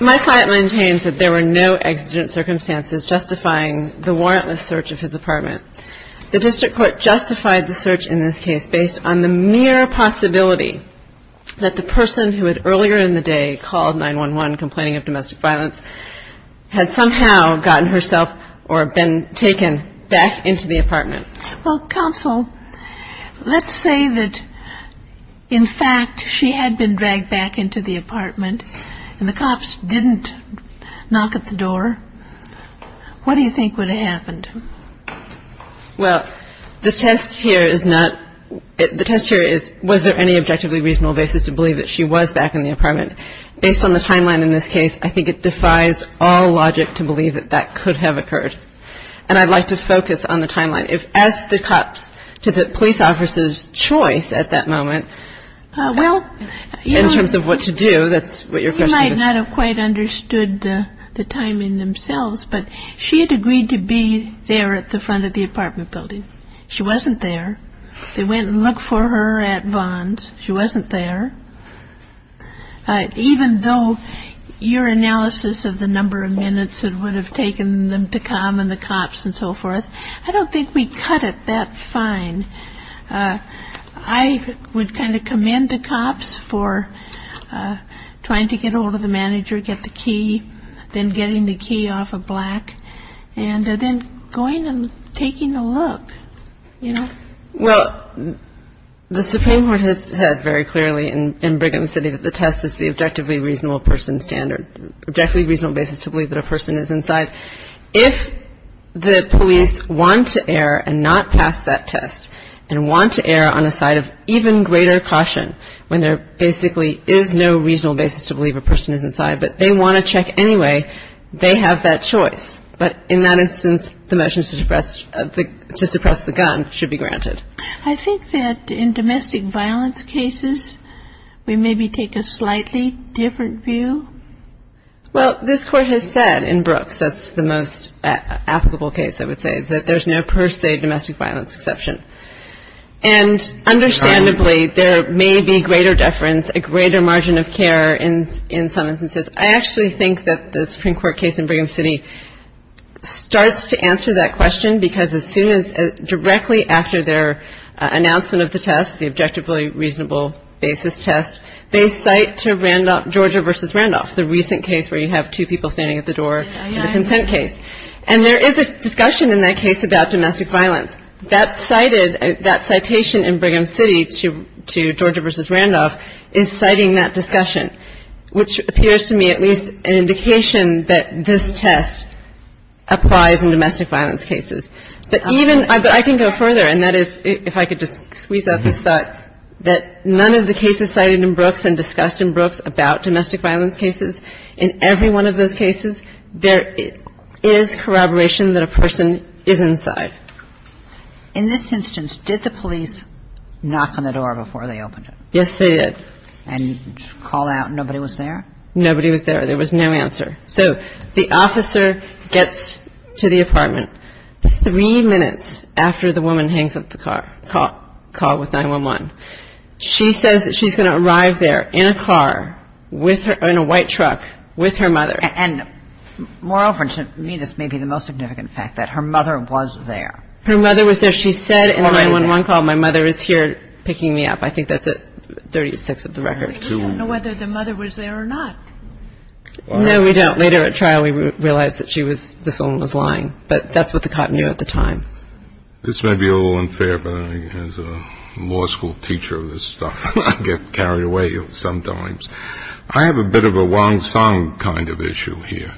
My client maintains that there were no exigent circumstances justifying the warrantless search of his apartment. The district court justified the search in this case based on mere possibility that the person who had earlier in the day called 9-1-1 complaining of domestic violence had somehow gotten herself or been taken back into the apartment. Well, counsel, let's say that in fact she had been dragged back into the apartment and the cops didn't knock at the door, what do you think would have happened? Well, the test here is not – the test here is was there any objectively reasonable basis to believe that she was back in the apartment. Based on the timeline in this case, I think it defies all logic to believe that that could have occurred. And I'd like to focus on the timeline. If, as the cops, to the police officer's choice at that moment, in terms of what to do, that's what your question is. I do not have quite understood the timing themselves, but she had agreed to be there at the front of the apartment building. She wasn't there. They went and looked for her at Vons. She wasn't there. Even though your analysis of the number of minutes it would have taken them to come and the cops and so forth, I don't think we cut it that fine. And I would kind of commend the cops for trying to get ahold of the manager, get the key, then getting the key off of Black, and then going and taking a look, you know? Well, the Supreme Court has said very clearly in Brigham City that the test is the objectively reasonable person standard – objectively reasonable basis to believe that a person is inside. If the police want to err and not pass that test, and want to err on a side of even greater caution, when there basically is no reasonable basis to believe a person is inside, but they want to check anyway, they have that choice. But in that instance, the motion to suppress the gun should be granted. I think that in domestic violence cases, we maybe take a slightly different view. Well, this Court has said in Brooks, that's the most applicable case, I would say, that there's no per se domestic violence exception. And understandably, there may be greater deference, a greater margin of care in some instances. I actually think that the Supreme Court case in Brigham City starts to answer that question, because as soon as – directly after their announcement of the test, the objectively reasonable basis test, they cite to Randolph versus Randolph, the recent case where you have two people standing at the door in the consent case. And there is a discussion in that case about domestic violence. That cited – that citation in Brigham City to Georgia versus Randolph is citing that discussion, which appears to me at least an indication that this test applies in domestic violence cases. But even – I can go further, and that is – if I could just squeeze out this thought that none of the cases cited in Brooks and discussed in Brooks about domestic violence cases, in every one of those cases, there is corroboration that a person is inside. In this instance, did the police knock on the door before they opened it? Yes, they did. And call out, and nobody was there? Nobody was there. There was no answer. So the officer gets to the apartment three minutes after the woman hangs up the call with 911. She says that she's going to arrive there in a car with her – in a white truck with her mother. And moreover, and to me this may be the most significant fact, that her mother was there. Her mother was there. She said in a 911 call, my mother is here picking me up. I think that's at 36 of the record. But you don't know whether the mother was there or not. No, we don't. Later at trial, we realized that she was – this woman was lying. But that's what the court knew at the time. This may be a little unfair, but as a law school teacher of this stuff, I get carried away sometimes. I have a bit of a Wong-Sung kind of issue here.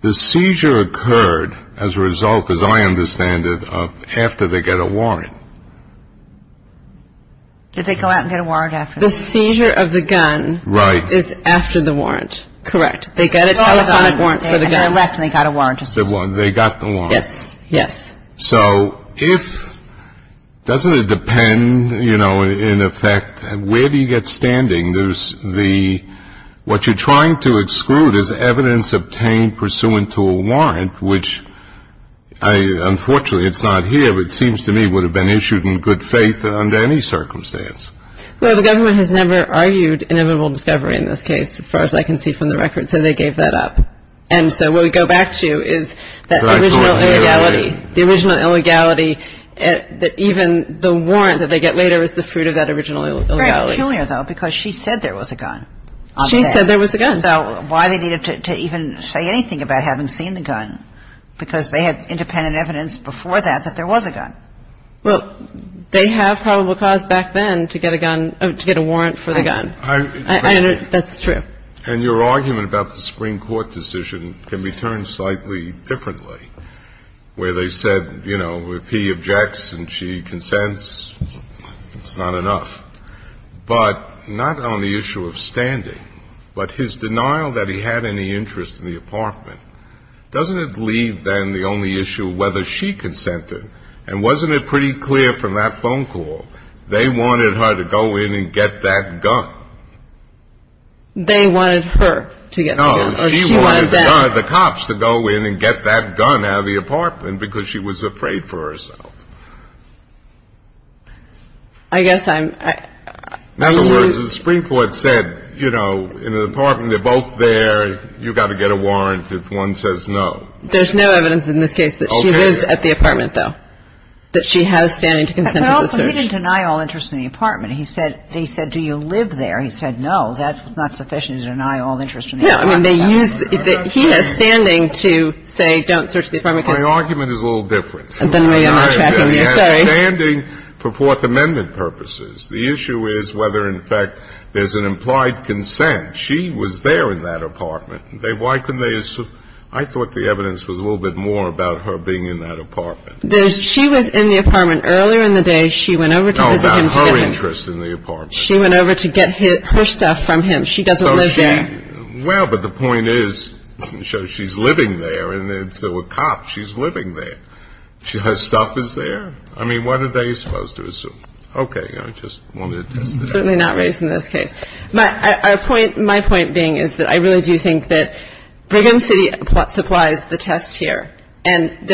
The seizure occurred, as a result, as I understand it, after they get a warrant. Did they go out and get a warrant after? The seizure of the gun – Right. – is after the warrant. Correct. They got a telephonic warrant. They got a telephonic warrant. They got a warrant. They got the warrant. Yes. Yes. So if – doesn't it depend, you know, in effect, where do you get standing? There's the – what you're trying to exclude is evidence obtained pursuant to a warrant, which I – unfortunately, it's not here, but it seems to me would have been issued in good faith under any circumstance. Well, the government has never argued inevitable discovery in this case, as far as I can see from the records, so they gave that up. And so what we go back to is that original illegality. The original illegality that even the warrant that they get later is the fruit of that original illegality. They're not killing her, though, because she said there was a gun. She said there was a gun. So why they needed to even say anything about having seen the gun? Because they had independent evidence before that that there was a gun. Well, they have probable cause back then to get a gun – to get a warrant for the gun. I – I – That's true. And your argument about the Supreme Court decision can be turned slightly differently, where they said, you know, if he objects and she consents, it's not enough. But not on the issue of standing, but his denial that he had any interest in the apartment, doesn't it leave, then, the only issue of whether she consented? And wasn't it pretty clear from that phone call? They wanted her to go in and get that gun. They wanted her to get the gun. No, she wanted the cops to go in and get that gun out of the apartment because she was afraid for herself. I guess I'm – In other words, the Supreme Court said, you know, in the apartment, they're both there, you've got to get a warrant if one says no. There's no evidence in this case that she was at the apartment, though, that she has standing to consent to the search. But also, he didn't deny all interest in the apartment. He said – they said, do you live there? He said, no, that's not sufficient to deny all interest in the apartment. No, I mean, they used – he has standing to say, don't search the apartment because – My argument is a little different. And then maybe I'm not tracking what you're saying. I agree. He has standing for Fourth Amendment purposes. The issue is whether, in fact, there's an implied consent. She was there in that apartment. Why couldn't they assume – I thought the evidence was a little bit more about her being in that apartment. There's – she was in the apartment earlier in the day. She went over to visit him. No, about her interest in the apartment. She went over to get her stuff from him. She doesn't live there. So she – well, but the point is, she's living there, and if there were cops, she's living there. Her stuff is there? I mean, what are they supposed to assume? Okay. I just wanted to – Certainly not raised in this case. My point being is that I really do think that Brigham City supplies the test here. And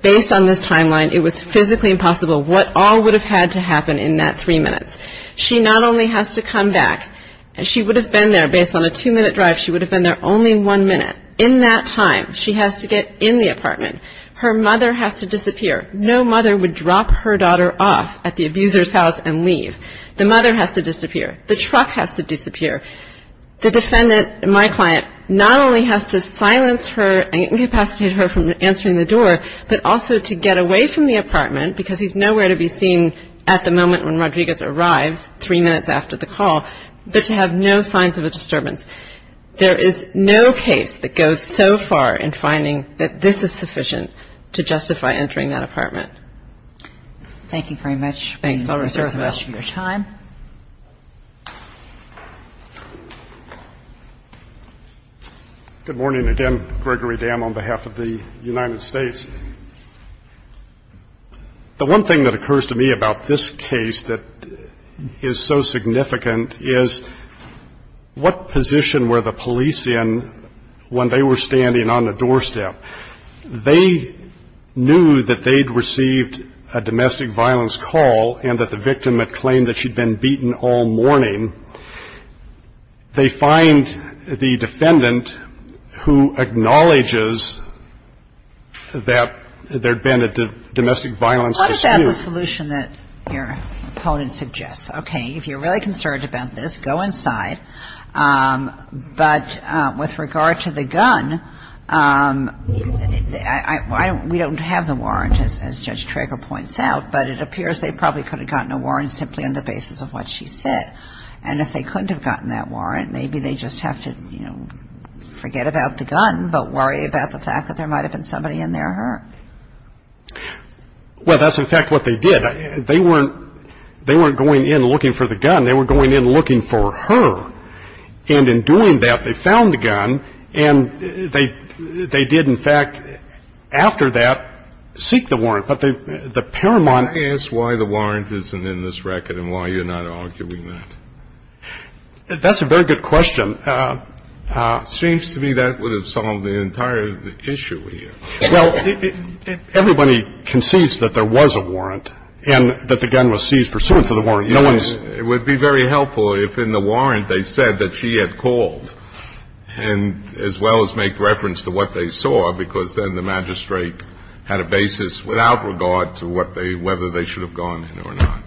based on this timeline, it was physically impossible what all would have had to happen in that three minutes. She not only has to come back – she would have been there, based on a two-minute drive, she would have been there only one minute. In that time, she has to get in the apartment. Her mother has to disappear. No mother would drop her daughter off at the abuser's house and leave. The mother has to disappear. The truck has to disappear. The defendant, my client, not only has to silence her and incapacitate her from answering the door, but also to get away from the apartment, because he's nowhere to be seen at the moment when Rodriguez arrives, three minutes after the call, but to have no signs of a disturbance. There is no case that goes so far in finding that this is sufficient to justify entering that apartment. Thank you very much. Thanks. I'll reserve the rest of your time. Good morning again, Gregory Dam, on behalf of the United States. The one thing that occurs to me about this case that is so significant is what position were the police in when they were standing on the doorstep? They knew that they'd received a domestic violence call and that the victim had claimed that she'd been beaten all morning. They find the defendant who acknowledges that there'd been a domestic violence dispute. What about the solution that your opponent suggests? Okay. If you're really concerned about this, go inside, but with regard to the gun, we don't have the warrant, as Judge Trager points out, but it appears they probably could have gotten a warrant simply on the basis of what she said. And if they couldn't have gotten that warrant, maybe they just have to, you know, forget about the gun, but worry about the fact that there might have been somebody in there hurt. Well, that's, in fact, what they did. They weren't going in looking for the gun. They were going in looking for her. And in doing that, they found the gun, and they did, in fact, after that, seek the warrant. But the paramount – Can I ask why the warrant isn't in this record and why you're not arguing that? That's a very good question. It seems to me that would have solved the entire issue here. Well, everybody concedes that there was a warrant and that the gun was seized pursuant to the warrant. No one is – It would be very helpful if in the warrant they said that she had called and as well as make reference to what they saw, because then the magistrate had a basis without regard to what they – whether they should have gone in or not.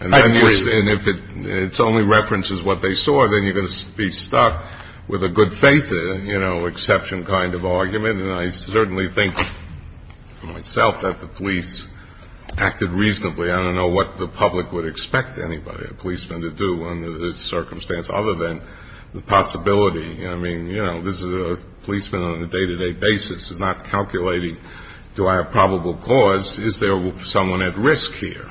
And if it's only reference is what they saw, then you're going to be stuck with a good faith, you know, exception kind of argument. And I certainly think myself that the police acted reasonably. I don't know what the public would expect anybody, a policeman, to do under this circumstance other than the possibility. I mean, you know, this is a policeman on a day-to-day basis, not calculating do I have probable cause, is there someone at risk here?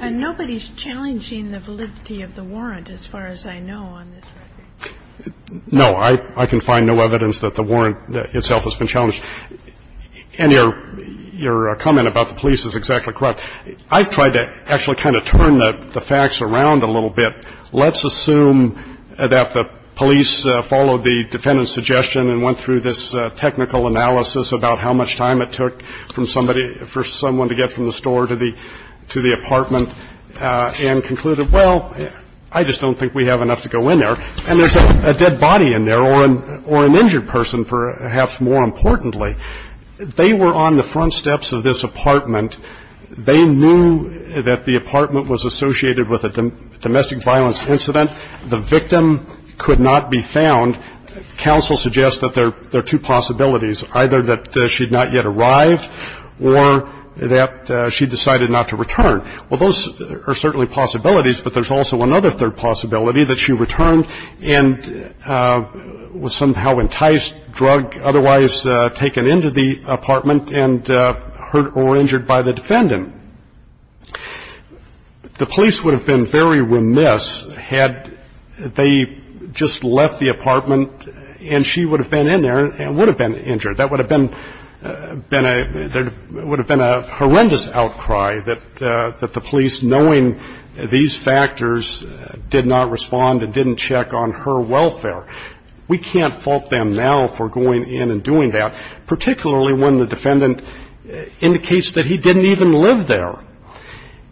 And nobody's challenging the validity of the warrant as far as I know on this record. No. I can find no evidence that the warrant itself has been challenged. And your comment about the police is exactly correct. I've tried to actually kind of turn the facts around a little bit. Let's assume that the police followed the defendant's suggestion and went through this technical analysis about how much time it took from somebody – for someone to get from the store to the apartment and concluded, well, I just don't think we have enough to go in there, and there's a dead body in there or an injured person, perhaps more importantly. They were on the front steps of this apartment. They knew that the apartment was associated with a domestic violence incident. The victim could not be found. Counsel suggests that there are two possibilities, either that she'd not yet arrived or that she decided not to return. Well, those are certainly possibilities, but there's also another third possibility, that she returned and was somehow enticed, drug otherwise taken into the apartment and hurt or injured by the defendant. The police would have been very remiss had they just left the apartment and she would have been in there and would have been injured. That would have been a – there would have been a horrendous outcry that the police, knowing these factors, did not respond and didn't check on her welfare. So the defense counsel tells the jury that there's evidence that he didn't even live there. We can't fault them now for going in and doing that, particularly when the defendant indicates that he didn't even live there.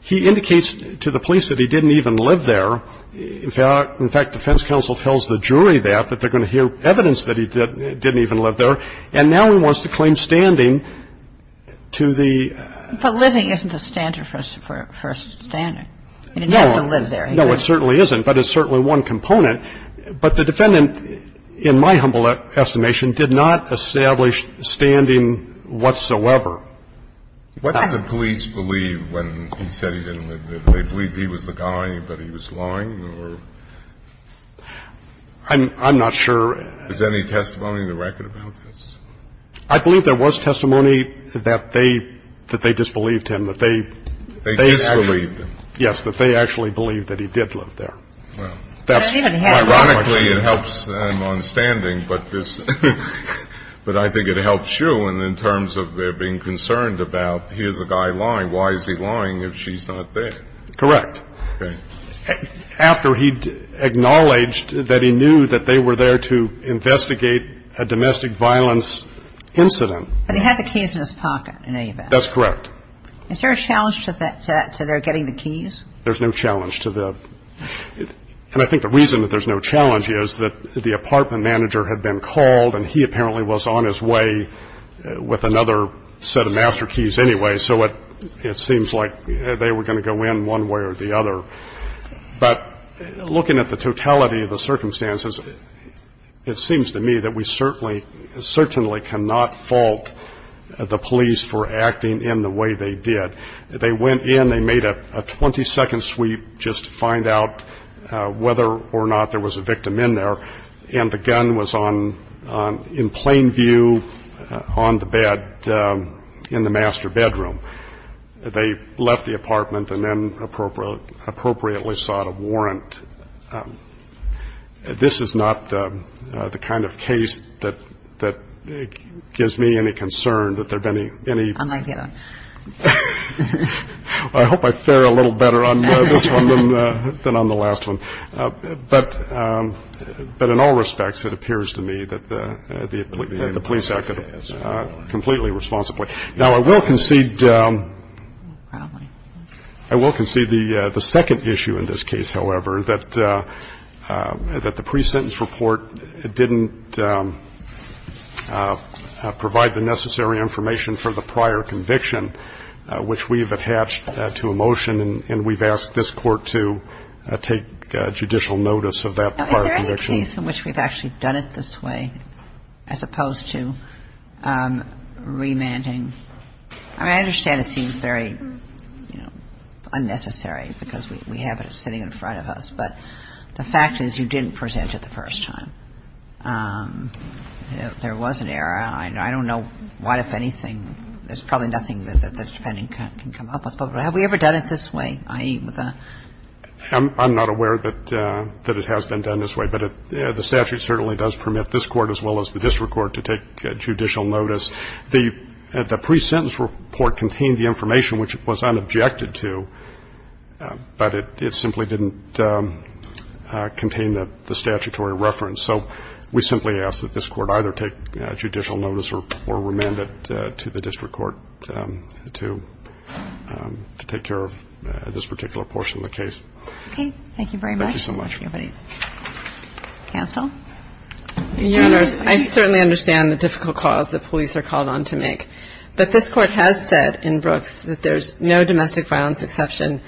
He indicates to the police that he didn't even live there. In fact, defense counsel tells the jury that, that they're going to hear evidence that he didn't even live there, and now he wants to claim standing to the – But living isn't a standard for standing. I mean, you have to live there. No, it certainly isn't, but it's certainly one component. But the defendant, in my humble estimation, did not establish standing whatsoever. What did the police believe when he said he didn't live there? Did they believe he was the guy, but he was lying, or? I'm not sure. Is there any testimony in the record about this? I believe there was testimony that they disbelieved him, that they – They disbelieved him? Yes, that they actually believed that he did live there. Well, that's – He didn't have – Ironically, it helps them on standing, but this – but I think it helps you in terms of being concerned about, here's a guy lying. Why is he lying if she's not there? Correct. Okay. After he acknowledged that he knew that they were there to investigate a domestic violence incident – But he had the keys in his pocket, I know you bet. That's correct. Is there a challenge to that, to their getting the keys? There's no challenge to the – and I think the reason that there's no challenge is that the apartment manager had been called, and he apparently was on his way with another set of master keys anyway, so it seems like they were going to go in one way or the other. But looking at the totality of the circumstances, it seems to me that we certainly cannot fault the police for acting in the way they did. They went in, they made a 20-second sweep just to find out whether or not there was a victim in there, and the gun was on – in plain view on the bed in the master bedroom. They left the apartment and then appropriately sought a warrant. This is not the kind of case that gives me any concern that there have been any – I hope I fare a little better on this one than on the last one. But in all respects, it appears to me that the police acted completely responsibly. Now, I will concede – I will concede the second issue in this case, however, that the pre-sentence report didn't provide the necessary information for the prior conviction, which we have attached to a motion, and we've asked this Court to take judicial notice of that prior conviction. And I'm not aware of a case in which we've actually done it this way, as opposed to remanding. I mean, I understand it seems very, you know, unnecessary, because we have it sitting in front of us, but the fact is, you didn't present it the first time. There was an error. I don't know why, if anything – there's probably nothing that the Defendant can come up with. But have we ever done it this way, i.e. with a – I'm not aware that it has been done this way, but the statute certainly does permit this Court, as well as the district court, to take judicial notice. The pre-sentence report contained the information which it was unobjected to, but it simply didn't contain the statutory reference. So we simply ask that this Court either take judicial notice or remand it to the district court to take care of this particular portion of the case. Okay. Thank you very much. Thank you so much. Anybody else? Counsel? Your Honors, I certainly understand the difficult calls that police are called on to make. But this Court has said in Brooks that there's no domestic violence exception.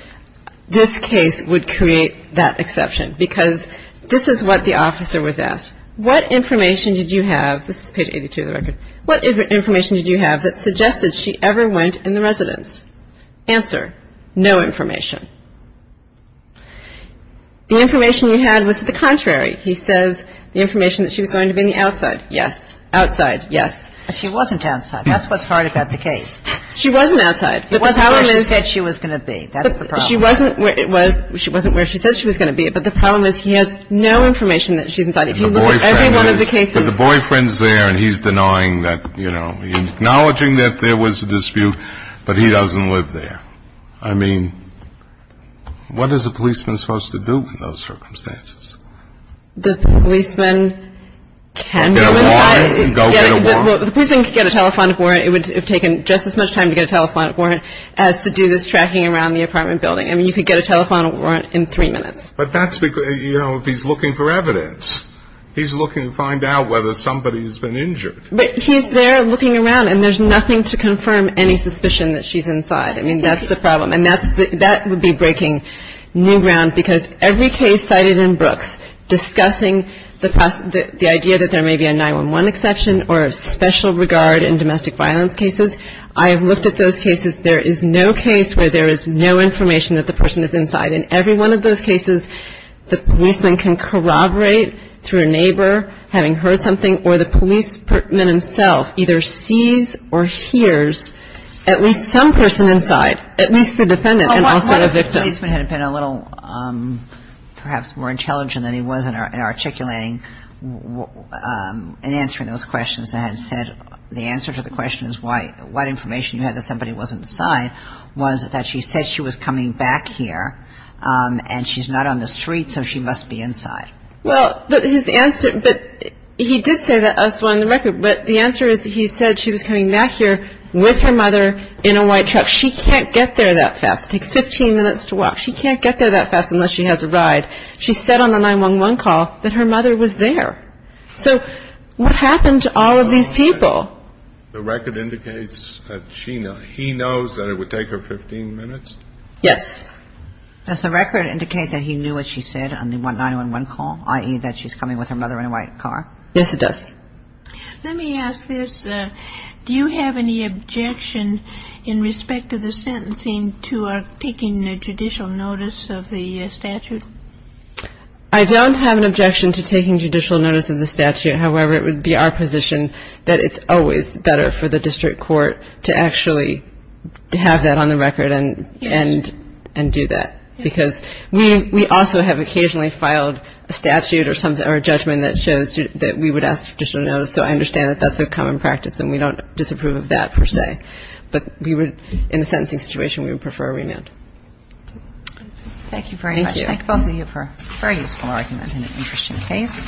This case would create that exception, because this is what the officer was asked. What information did you have – this is page 82 of the record – what information did you have that suggested she ever went in the residence? Answer, no information. The information you had was to the contrary. He says the information that she was going to be on the outside. Yes. Outside. Yes. But she wasn't outside. That's what's hard about the case. She wasn't outside. She wasn't where she said she was going to be. That is the problem. But she wasn't where it was – she wasn't where she said she was going to be. But the problem is he has no information that she's inside. If you look at every one of the cases – You know, acknowledging that there was a dispute, but he doesn't live there. I mean, what is a policeman supposed to do in those circumstances? The policeman can go inside – Get a warrant. Go get a warrant. Well, the policeman could get a telephonic warrant. It would have taken just as much time to get a telephonic warrant as to do this tracking around the apartment building. I mean, you could get a telephonic warrant in three minutes. But that's because – you know, if he's looking for evidence, he's looking to find out whether somebody's been injured. But he's there looking around, and there's nothing to confirm any suspicion that she's inside. I mean, that's the problem. And that's – that would be breaking new ground, because every case cited in Brooks discussing the idea that there may be a 9-1-1 exception or special regard in domestic violence cases – I have looked at those cases. There is no case where there is no information that the person is inside. In every one of those cases, the policeman can corroborate through a neighbor having heard something, or the policeman himself either sees or hears at least some person inside, at least the defendant and also the victim. But what if the policeman had been a little perhaps more intelligent than he was in articulating and answering those questions and had said – the answer to the question is why – what information you had that somebody was inside was that she said she was coming back here and she's not on the street, so she must be inside. Well, but his answer – but he did say that elsewhere on the record, but the answer is he said she was coming back here with her mother in a white truck. She can't get there that fast. It takes 15 minutes to walk. She can't get there that fast unless she has a ride. She said on the 9-1-1 call that her mother was there. So what happened to all of these people? The record indicates that she – he knows that it would take her 15 minutes? Yes. Does the record indicate that he knew what she said on the 9-1-1 call, i.e. that she's coming with her mother in a white car? Yes, it does. Let me ask this. Do you have any objection in respect to the sentencing to taking judicial notice of the statute? I don't have an objection to taking judicial notice of the statute. However, it would be our position that it's always better for the district court to actually have that on the record and do that. Because we also have occasionally filed a statute or a judgment that shows that we would ask for judicial notice. So I understand that that's a common practice and we don't disapprove of that per se. But in the sentencing situation, we would prefer a remand. Thank you very much. Thank both of you for a very useful argument and an interesting case.